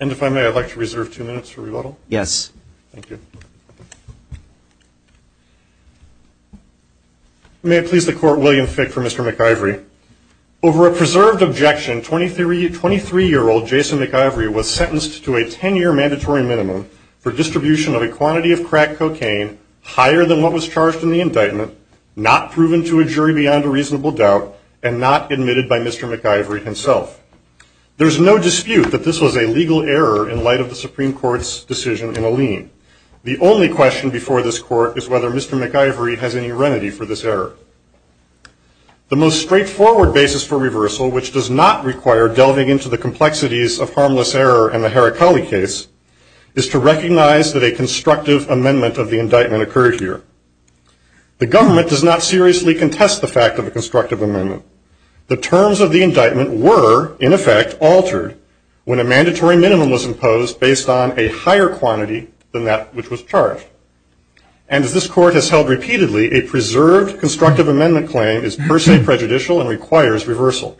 And if I may, I'd like to reserve two minutes for rebuttal. Yes. Thank you. May I please the court, William Fick for Mr. McIvory. Over a preserved objection, 23-year-old Jason McIvory was sentenced to a 10-year mandatory minimum for distribution of a quantity of crack cocaine higher than what was charged in the indictment, not proven to a jury beyond a reasonable doubt, and not admitted by Mr. McIvory himself. There's no dispute that this was a legal error in light of the Supreme Court's decision in a lien. The only question before this court is whether Mr. McIvory has any remedy for this error. The most straightforward basis for reversal, which does not require delving into the complexities of harmless error in the Heracli case, is to recognize that a constructive amendment of the indictment occurred here. The government does not seriously contest the fact of a constructive amendment. The terms of the indictment were, in effect, altered when a mandatory minimum was imposed based on a higher quantity than that which was charged. And as this court has held repeatedly, a preserved argument is prejudicial and requires reversal.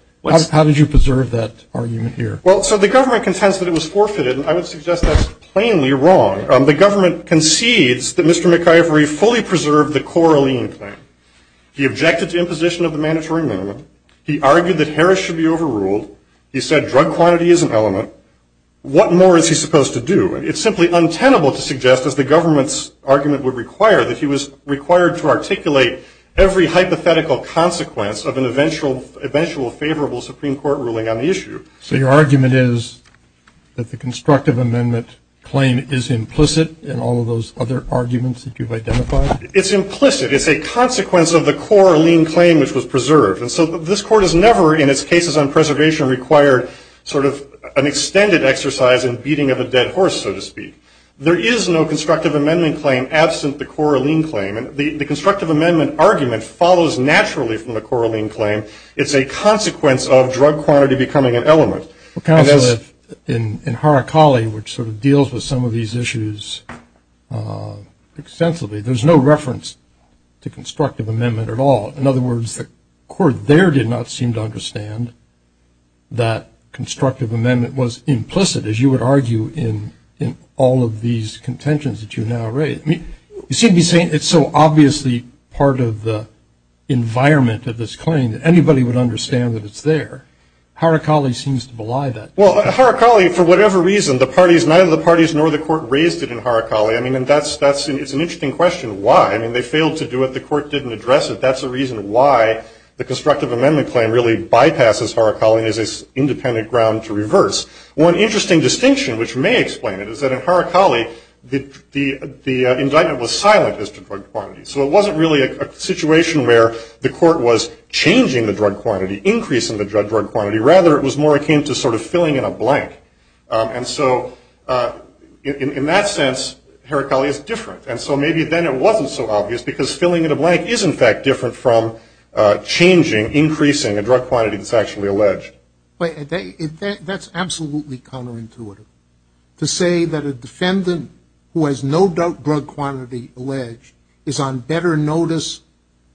How did you preserve that argument here? Well, so the government contends that it was forfeited, and I would suggest that's plainly wrong. The government concedes that Mr. McIvory fully preserved the Coraline plan. He objected to imposition of the mandatory minimum. He argued that Harris should be overruled. He said drug quantity is an element. What more is he supposed to do? It's simply untenable to suggest, as the government's argument would require, that he was required to articulate every hypothetical consequence of an eventual favorable Supreme Court ruling on the issue. So your argument is that the constructive amendment claim is implicit in all of those other arguments that you've identified? It's implicit. It's a consequence of the Coraline claim which was preserved. And so this court has never, in its cases on preservation, required sort of an extended exercise in beating of a dead horse, so to speak. There is no constructive amendment claim absent the Coraline claim. The constructive amendment argument follows naturally from the Coraline claim. It's a consequence of drug quantity becoming an element. Counsel, in Harakali, which sort of deals with some of these issues extensively, there's no reference to constructive amendment at all. In other words, the court there did not seem to understand that constructive amendment was implicit, as you would argue in all of these contentions that you now raise. You seem to be saying it's so obviously part of the environment of this claim that anybody would understand that it's there. Harakali seems to belie that. Well, Harakali, for whatever reason, the parties, neither the parties nor the court raised it in Harakali. I mean, it's an interesting question why. I mean, they failed to do it. The court didn't address it. That's the reason why the constructive amendment claim really bypasses Harakali and is an independent ground to reverse. One interesting distinction, which may explain it, is that in Harakali, the indictment was silent as to drug quantity. So it wasn't really a situation where the court was changing the drug quantity, increasing the drug quantity. Rather, it was more akin to sort of filling in a blank. And so in that sense, Harakali is different. And so maybe then it wasn't so obvious because filling in a blank is, in fact, different from changing, increasing a drug quantity that's actually alleged. But that's absolutely counterintuitive. To say that a defendant who has no doubt drug quantity alleged is on better notice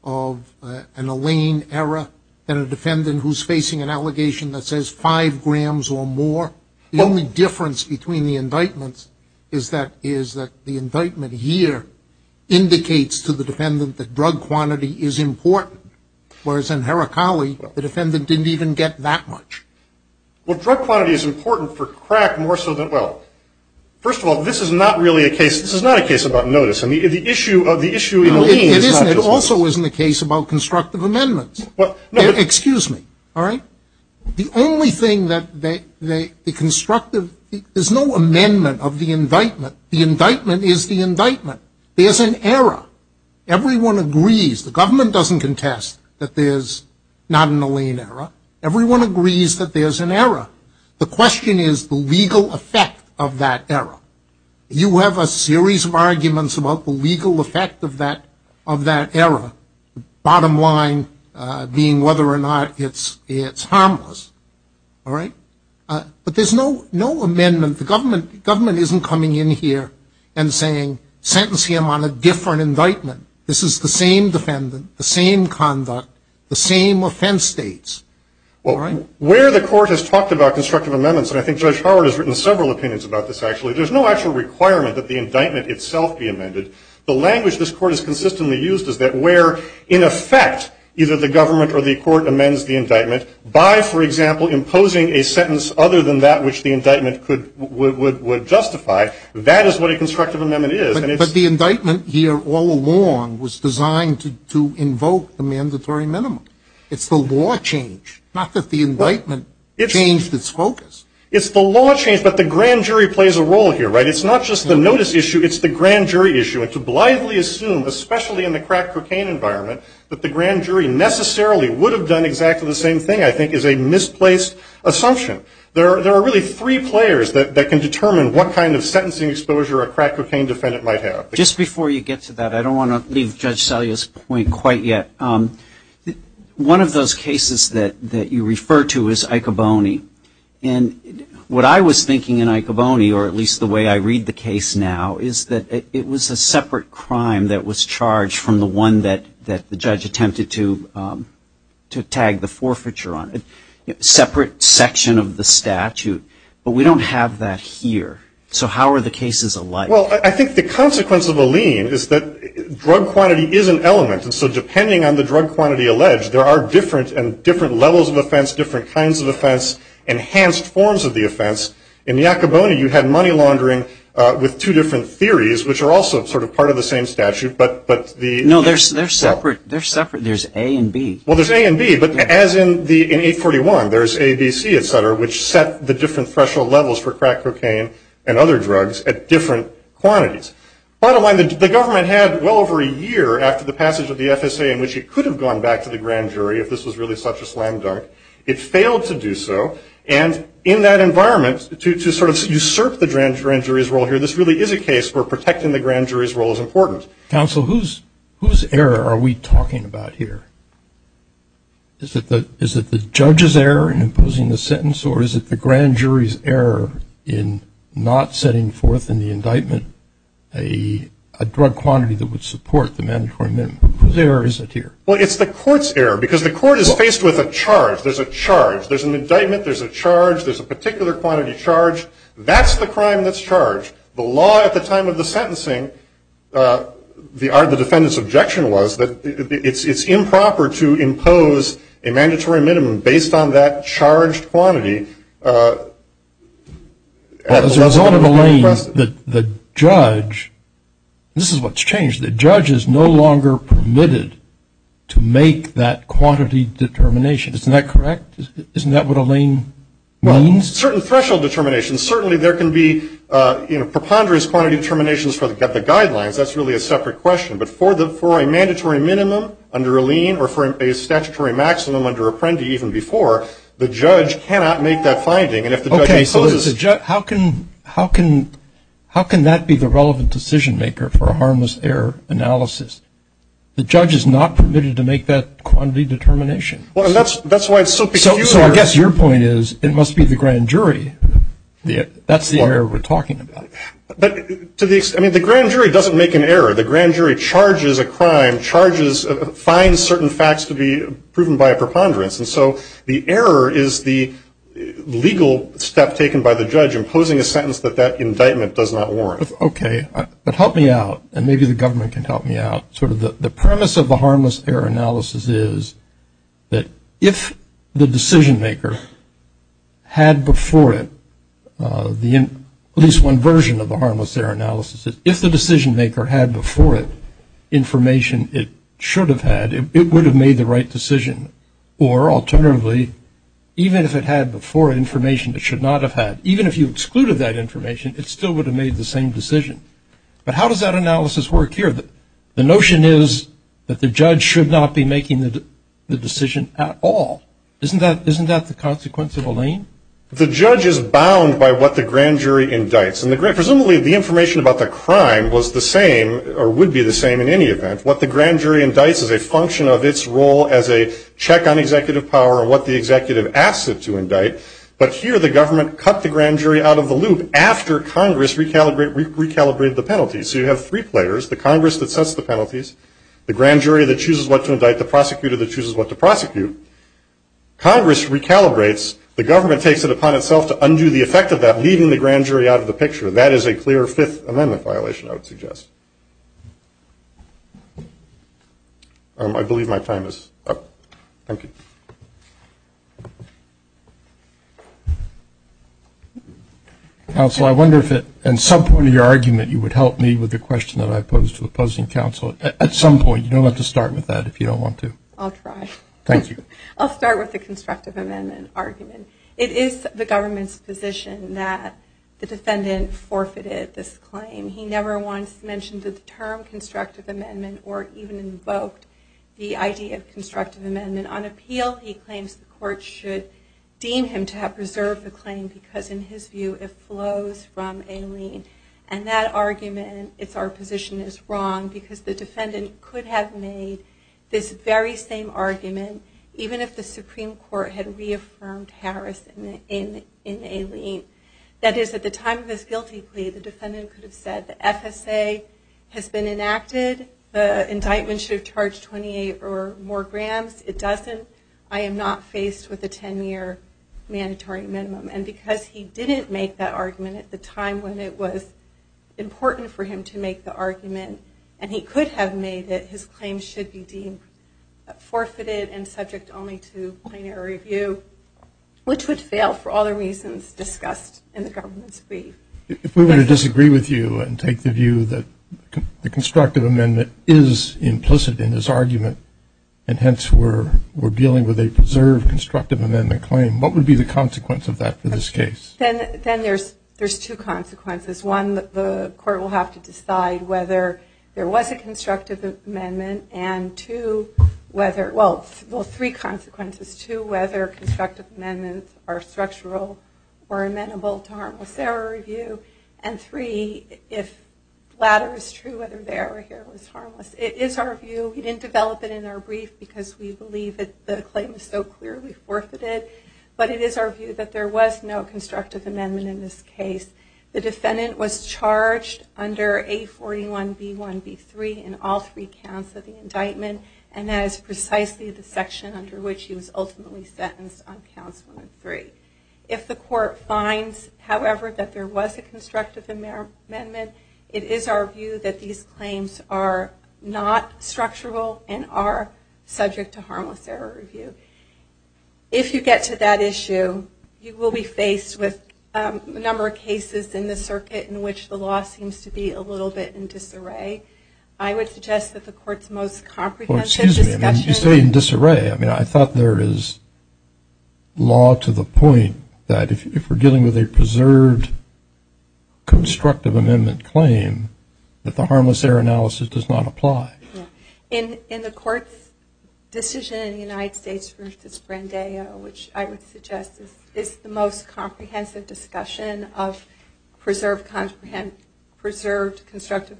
of an Alain error than a defendant who's facing an allegation that says five grams or more. The only difference between the indictments is that the indictment here indicates to the defendant that drug quantity is important. Whereas in Harakali, the defendant didn't even get that much. Well, drug quantity is important for crack more so than, well, first of all, this is not really a case, this is not a case about notice. I mean, the issue of the issue in Alain is not just notice. It also isn't a case about constructive amendments. Well, no, but. Excuse me. All right? The only thing that the constructive, there's no amendment of the indictment. The indictment is the indictment. There's an error. Everyone agrees. The government doesn't contest that there's not an Alain error. Everyone agrees that there's an error. The question is the legal effect of that error. You have a series of arguments about the legal effect of that error. Bottom line being whether or not it's harmless. All right? But there's no amendment. The government isn't coming in here and saying, sentence him on a different indictment. This is the same defendant, the same conduct, the same offense states. All right? Where the court has talked about constructive amendments, and I think Judge Howard has written several opinions about this actually, there's no actual requirement that the indictment itself be amended. The language this court has consistently used is that where in effect either the government or the court amends the indictment by, for example, imposing a sentence other than that which the indictment would justify, that is what a constructive amendment is. But the indictment here all along was designed to invoke the mandatory minimum. It's the law change, not that the indictment changed its focus. It's the law change, but the grand jury plays a role here, right? It's not just the notice issue, it's the grand jury issue. And to blithely assume, especially in the crack cocaine environment, that the grand jury necessarily would have done exactly the same thing I think is a misplaced assumption. There are really three players that can determine what kind of sentencing exposure a crack cocaine defendant might have. Just before you get to that, I don't want to leave Judge Salia's point quite yet. One of those cases that you refer to is Icoboni. And what I was thinking in Icoboni, or at least the way I read the case now, is that it was a separate crime that was charged from the one that the judge attempted to tag the forfeiture on, a separate section of the statute. But we don't have that here. So how are the cases alike? Well, I think the consequence of a lien is that drug quantity is an element. And so depending on the drug quantity alleged, there are different levels of offense, different kinds of offense, enhanced forms of the offense. In Icoboni, you had money laundering with two different theories, which are also sort of part of the same statute. No, they're separate. There's A and B. Well, there's A and B. But as in 841, there's ABC, et cetera, which set the different threshold levels for crack cocaine and other drugs at different quantities. Bottom line, the government had well over a year after the passage of the FSA in which it could have gone back to the grand jury if this was really such a slam dunk. It failed to do so. And in that environment, to sort of usurp the grand jury's role here, this really is a case where protecting the grand jury's role is important. Counsel, whose error are we talking about here? Is it the judge's error in imposing the sentence, or is it the grand jury's error in not setting forth in the indictment a drug quantity that would support the mandatory minimum? Whose error is it here? Well, it's the court's error, because the court is faced with a charge. There's a charge. There's an indictment. There's a charge. There's a particular quantity charged. That's the crime that's charged. The law at the time of the sentencing, the defendant's objection was that it's improper to impose a mandatory minimum based on that charged quantity. As a result of Allain, the judge, this is what's changed. The judge is no longer permitted to make that quantity determination. Isn't that correct? Isn't that what Allain means? Certain threshold determinations. Certainly there can be preponderance quantity determinations for the guidelines. That's really a separate question. But for a mandatory minimum under Allain, or for a statutory maximum under Apprendi even before, the judge cannot make that finding. Okay, so how can that be the relevant decision maker for a harmless error analysis? The judge is not permitted to make that quantity determination. That's why it's so peculiar. So I guess your point is, it must be the grand jury. That's the error we're talking about. But to the extent, I mean, the grand jury doesn't make an error. The grand jury charges a crime, charges, finds certain facts to be proven by a preponderance. And so the error is the legal step taken by the judge, imposing a sentence that that indictment does not warrant. Okay. But help me out, and maybe the government can help me out. Sort of the premise of the harmless error analysis is that if the decision maker had before it at least one version of the harmless error analysis, if the decision maker had before it information it should have had, it would have made the right decision. Or alternatively, even if it had before it information it should not have had, even if you excluded that information, it still would have made the same decision. But how does that analysis work here? The notion is that the judge should not be making the decision at all. Isn't that the consequence of Allain? The judge is bound by what the grand jury indicts. And presumably the information about the crime was the same, or would be the same in any event. What the grand jury indicts is a function of its role as a check on executive power and what the executive asks it to indict. But here the government cut the grand jury out of the loop after Congress recalibrated the penalties. So you have three players, the Congress that sets the penalties, the grand jury that chooses what to indict, the prosecutor that chooses what to prosecute. Congress recalibrates, the government takes it upon itself to undo the effect of that, leaving the grand jury out of the picture. That is a clear Fifth Amendment violation I would suggest. I believe my time is up. Thank you. Counsel I wonder if at some point in your argument you would help me with the question that I posed to the opposing counsel. At some point, you don't have to start with that if you don't want to. I'll try. Thank you. I'll start with the constructive amendment argument. It is the government's position that the defendant forfeited this claim. He never once mentioned the term constructive amendment or even invoked the idea of constructive amendment. On appeal, he claims the court should deem him to have preserved the claim because in his view it flows from a lien. And that argument, it's our position, is wrong because the defendant could have made this very same argument even if the Supreme Court had reaffirmed Harris in a lien. That is, at the time of this guilty plea, the defendant could have said the FSA has been enacted, the indictment should have charged 28 or more grams. It doesn't. I am not faced with a 10-year mandatory minimum. And because he didn't make that argument at the time when it was important for him to make the argument, and he could have made it, his claim should be deemed forfeited and subject only to plenary review, which would fail for all the reasons discussed in the government's brief. If we were to disagree with you and take the view that the constructive amendment is implicit in this argument, and hence we're dealing with a preserved constructive amendment claim, what would be the consequence of that for this case? Then there's two consequences. One, the court will have to decide whether there was a constructive amendment, and two, whether, well, three consequences. Two, whether constructive amendments are structural or amenable to harmless error review, and three, if the latter is true, whether the error here was harmless. It is our view, we didn't develop it in our brief because we believe that the claim is so clearly forfeited, but it is our view that there was no constructive amendment in this case. The defendant was charged under A41B1B3 in all three counts of the indictment, and that is precisely the section under which he was ultimately sentenced on counts one and three. If the court finds, however, that there was a constructive amendment, it is our view that these claims are not structural and are subject to harmless error review. If you get to that issue, you will be faced with a number of cases in the circuit in which the law seems to be a little bit in disarray. I would suggest that the court's most comprehensive discussion... Well, excuse me, you say in disarray. I mean, I thought there is law to the point that if we're dealing with a preserved constructive amendment claim, that the harmless error analysis does not apply. In the court's decision in the United States versus Brandeo, which I would suggest is the most comprehensive discussion of preserved constructive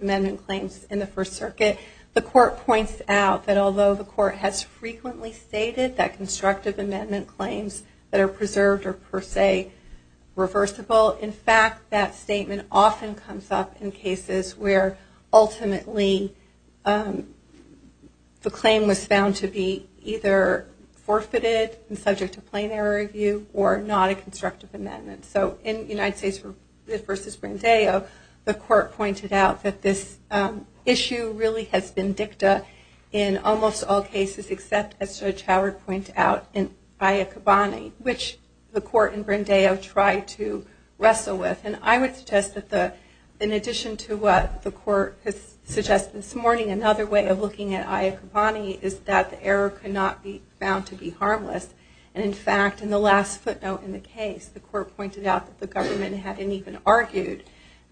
amendment claims in the First Circuit, the court points out that although the court has frequently stated that constructive amendment claims that are preserved are, per se, reversible, in fact, that statement often comes up in cases where ultimately the claim was found to be either forfeited and subject to plain error review or not a constructive amendment. So in the United States versus Brandeo, the court pointed out that this issue really has been dicta in almost all cases except, as Judge Howard pointed out, in Ayakabane, which the court in Brandeo tried to wrestle with. And I would suggest that in addition to what the court has suggested this morning, another way of looking at Ayakabane is that the error could not be found to be harmless. And in fact, in the last footnote in the case, the court pointed out that the government hadn't even argued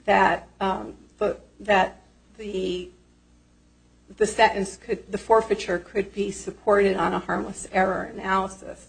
that the sentence, the forfeiture could be supported on a harmless error analysis.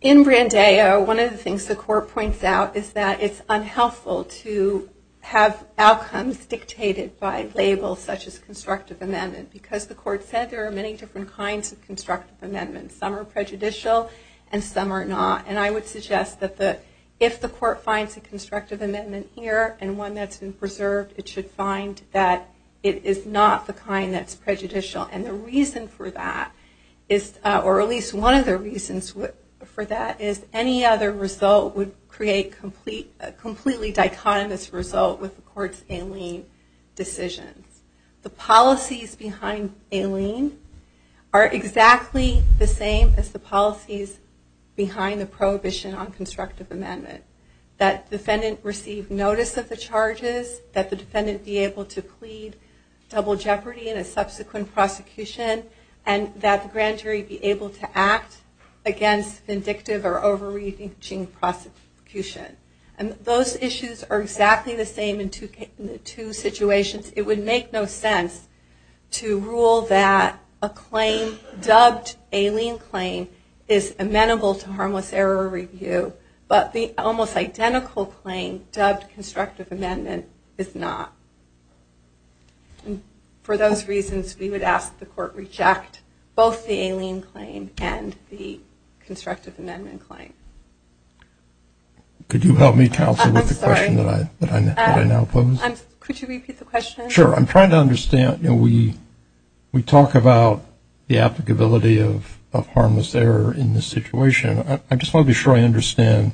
In Brandeo, one of the things the court points out is that it's unhelpful to have outcomes dictated by labels such as constructive amendment because the court said there are many different kinds of constructive amendments. Some are prejudicial and some are not. And I would suggest that if the court finds a constructive amendment here and one that's been preserved, it should find that it is not the kind that's prejudicial. And the reason for that, or at least one of the reasons for that, is any other result would create a completely dichotomous result with the court's Aileen decisions. The policies behind Aileen are exactly the same as the policies behind the prohibition on constructive amendment. That the defendant receive notice of the charges, that the defendant be able to plead double jeopardy in a subsequent prosecution, and that the grand jury be able to act against vindictive or overreaching prosecution. And those issues are exactly the same in two situations. It would make no sense to rule that a claim dubbed Aileen claim is amenable to harmless error review, but the almost identical claim dubbed constructive amendment is not. For those reasons, we would ask the court reject both the Aileen claim and the constructive amendment claim. Could you help me counsel with the question that I now pose? Could you repeat the question? Sure. I'm trying to understand, you know, we talk about the applicability of harmless error in this situation. I just want to be sure I understand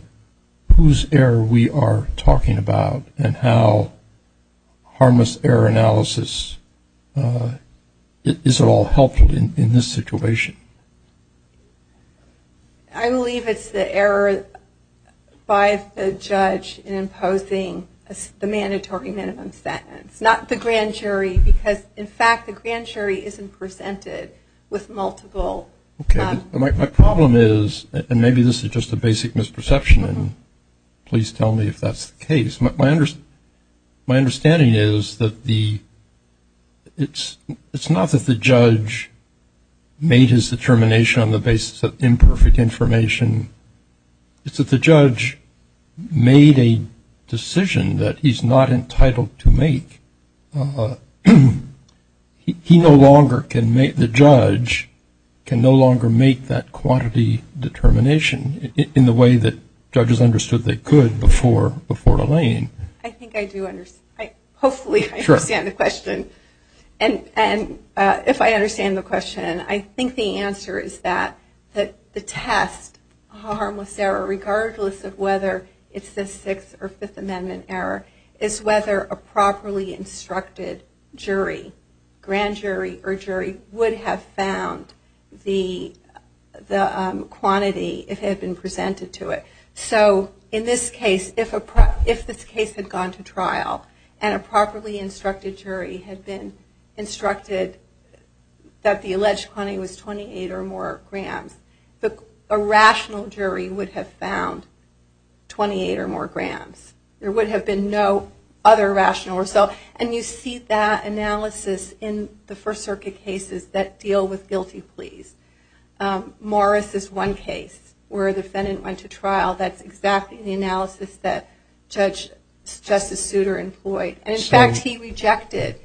whose error we are talking about and how harmless error analysis is at all helpful in this situation. I believe it's the error by the judge in imposing the mandatory minimum sentence. Not the grand jury, because in fact, the grand jury isn't presented with multiple. Okay. My problem is, and maybe this is just a basic misperception, and please tell me if that's the case. My understanding is that it's not that the judge made his determination on the basis of imperfect information. It's that the judge made a decision that he's not entitled to make. He no longer can make, the judge can no longer make that quantity determination in the way that judges understood they could before Elaine. I think I do understand. Hopefully I understand the question. And if I understand the question, I think the answer is that the test of harmless error, regardless of whether it's the Sixth Amendment or Fifth Amendment error, is whether a properly instructed jury, grand jury or jury, would have found the quantity if it had been presented to it. So in this case, if this case had gone to trial and a properly instructed jury had been instructed that the alleged quantity was 28 or more grams, a rational jury would have found 28 or more grams. There would have been no other rational result. And you see that analysis in the First Circuit cases that deal with guilty pleas. Morris's one case where a defendant went to trial, that's exactly the analysis that Justice Souter employed. And in fact he rejected,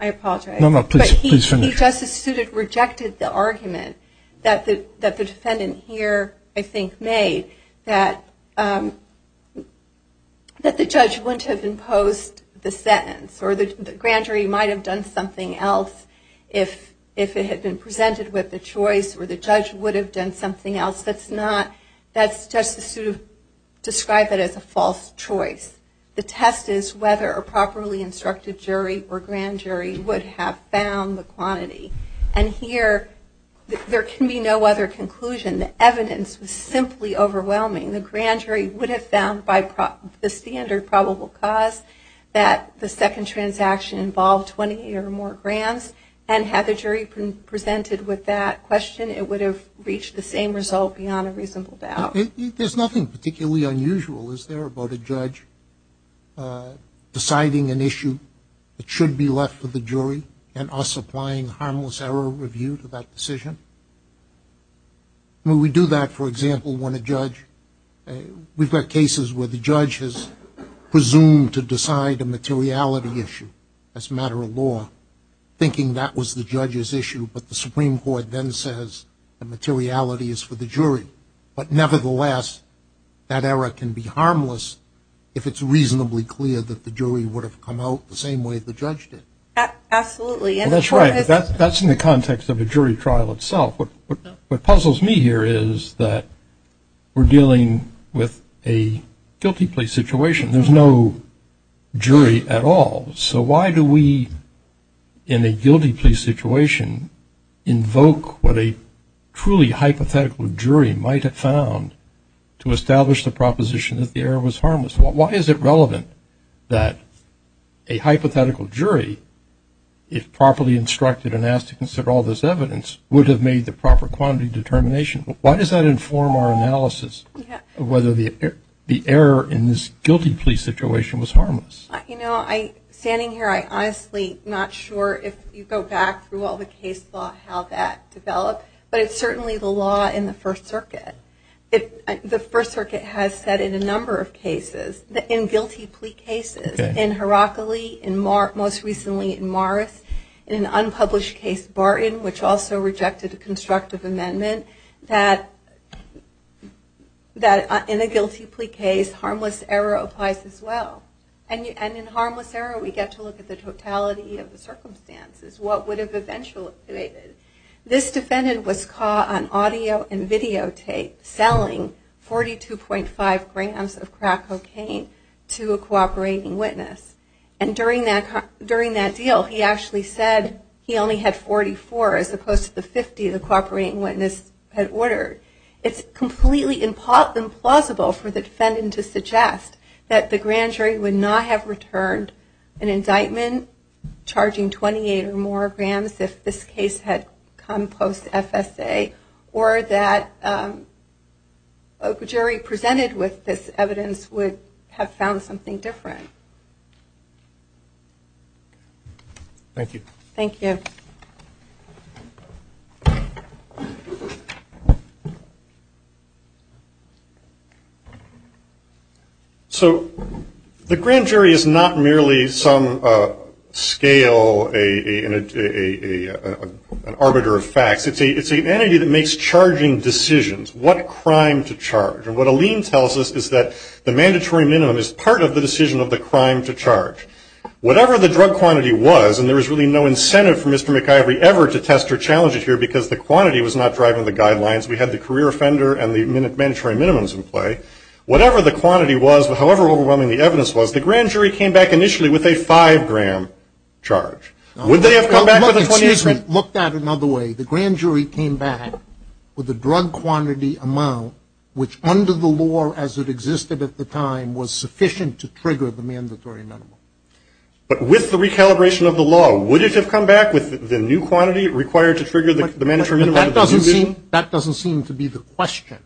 I apologize, but he, Justice Souter rejected the argument that the defendant here, I think, made, that the judge wouldn't have imposed the sentence or the grand jury might have done something else if it had been presented with the choice or the judge would have done something else. That's not, that's Justice Souter described it as a false choice. The test is whether a properly instructed jury or grand jury would have found the quantity. And here, there can be no other conclusion. The evidence was simply overwhelming. The grand jury would have found by the standard probable cause that the second transaction involved 28 or more grams and had the jury presented with that question, it would have reached the same result beyond a reasonable doubt. There's nothing particularly unusual, is there, about a judge deciding an issue that should be left to the jury and us applying harmless error review to that decision? When we do that, for example, when a judge, we've got cases where the judge has presumed to decide a materiality issue as a matter of law, thinking that was the judge's issue, but the Supreme Court then says the materiality is for the jury. But nevertheless, that error can be harmless if it's reasonably clear that the jury would have come out the same way as the judge did. Absolutely. Well, that's right. That's in the context of a jury trial itself. What puzzles me here is that we're dealing with a guilty plea situation. There's no jury at all. So why do we, in a guilty plea situation, invoke what a truly hypothetical jury might have found to establish the proposition that the error was harmless? Why is it relevant that a hypothetical jury, if properly instructed and asked to consider all this evidence, would have made the proper quantity determination? Why does that inform our analysis of whether the error in this guilty plea situation was harmless? You know, standing here, I'm honestly not sure if you go back through all the case law and how that developed, but it's certainly the law in the First Circuit. The First Circuit has said in a number of cases, in guilty plea cases, in Heracli, most recently in Morris, in an unpublished case, Barton, which also rejected a constructive amendment, that in a guilty plea case, harmless error applies as well. And in harmless error, we get to look at the totality of the circumstances, what would have eventuated. This defendant was caught on audio and videotape selling 42.5 grams of crack cocaine to a cooperating witness. And during that deal, he actually said he only had 44, as opposed to the 50 the cooperating witness had ordered. It's completely implausible for the defendant to have returned an indictment charging 28 or more grams if this case had come post-FSA, or that a jury presented with this evidence would have found something different. Thank you. Thank you. So, the grand jury is not merely some scale, an arbiter of facts. It's an entity that makes charging decisions, what crime to charge. And what Aline tells us is that the mandatory minimum is part of the decision of the crime to charge. Whatever the drug quantity was, and there was really no incentive for Mr. McIvory ever to test or challenge it here because the quantity was not driving the guidelines. We had the career offender and the mandatory minimums in play. Whatever the quantity was, however overwhelming the evidence was, the grand jury came back initially with a 5-gram charge. Would they have come back with a 28 gram? Look at it another way. The grand jury came back with a drug quantity amount, which under the law as it existed at the time, was sufficient to trigger the mandatory minimum. But with the recalibration of the law, would it have come back with the new quantity required to trigger the mandatory minimum? That doesn't seem to be the question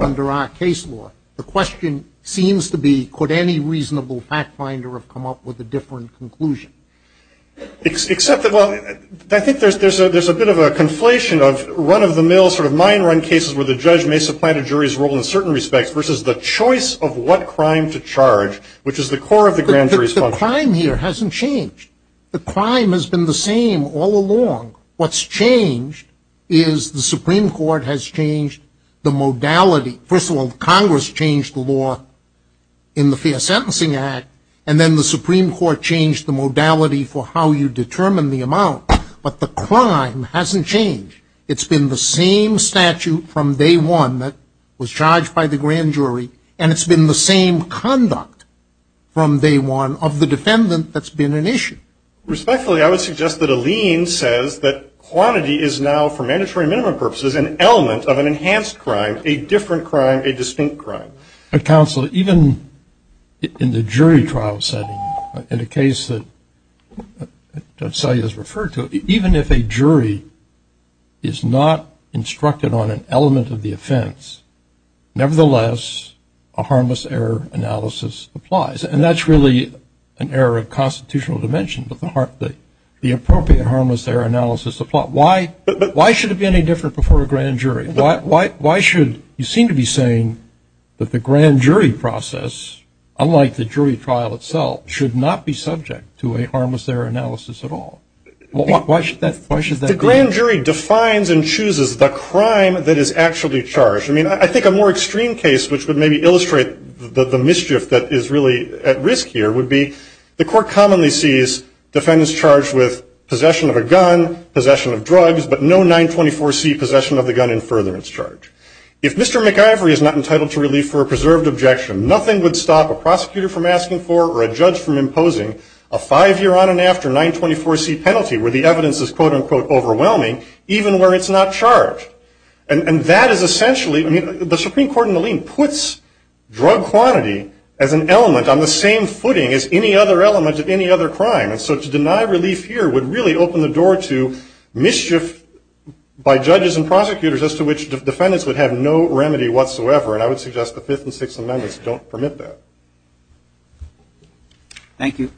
under our case law. The question seems to be, could any reasonable fact finder have come up with a different conclusion? Except that, well, I think there's a bit of a conflation of run-of-the-mill, sort of mine-run cases where the judge may supplant a jury's role in certain respects, versus the choice of what crime to charge, which is the core of the grand jury's function. But the crime here hasn't changed. The crime has been the same all along. What's changed is the Supreme Court has changed the modality. First of all, Congress changed the law in the Fair Sentencing Act, and then the Supreme Court changed the modality for how you determine the amount. But the crime hasn't changed. It's been the same statute from day one that was charged by the grand jury, and it's been the same conduct from day one of the defendant that's been an issue. Respectfully, I would suggest that Alene says that quantity is now, for mandatory minimum purposes, an element of an enhanced crime, a different crime, a distinct crime. But counsel, even in the jury trial setting, in a case that Celia has referred to, even if a jury is not instructed on an element of the offense, nevertheless, a harmless error analysis applies. And that's really an error of constitutional dimension, but the appropriate harmless error analysis applies. Why should it be any different before a grand jury? Why should- you seem to be saying that the grand jury process, unlike the jury trial itself, should not be subject to a harmless error analysis at all. Why should that be? The grand jury defines and chooses the crime that is actually charged. I mean, I think a more extreme case which would maybe illustrate the mischief that is really at risk here would be the court commonly sees defendants charged with possession of a gun, possession of drugs, but no 924C possession of the gun in furtherance charge. If Mr. McIvory is not entitled to relief for a preserved objection, nothing would stop a prosecutor from asking for or a judge from imposing a five-year on and after 924C penalty where the evidence is quote unquote overwhelming, even where it's not charged. And that is essentially- I mean, the Supreme Court in the lean puts drug quantity as an element on the same footing as any other element of any other crime. And so to deny relief here would really open the door to mischief by judges and prosecutors as to which defendants would have no remedy whatsoever, and I would suggest the Fifth and Sixth Amendments don't permit that. Thank you.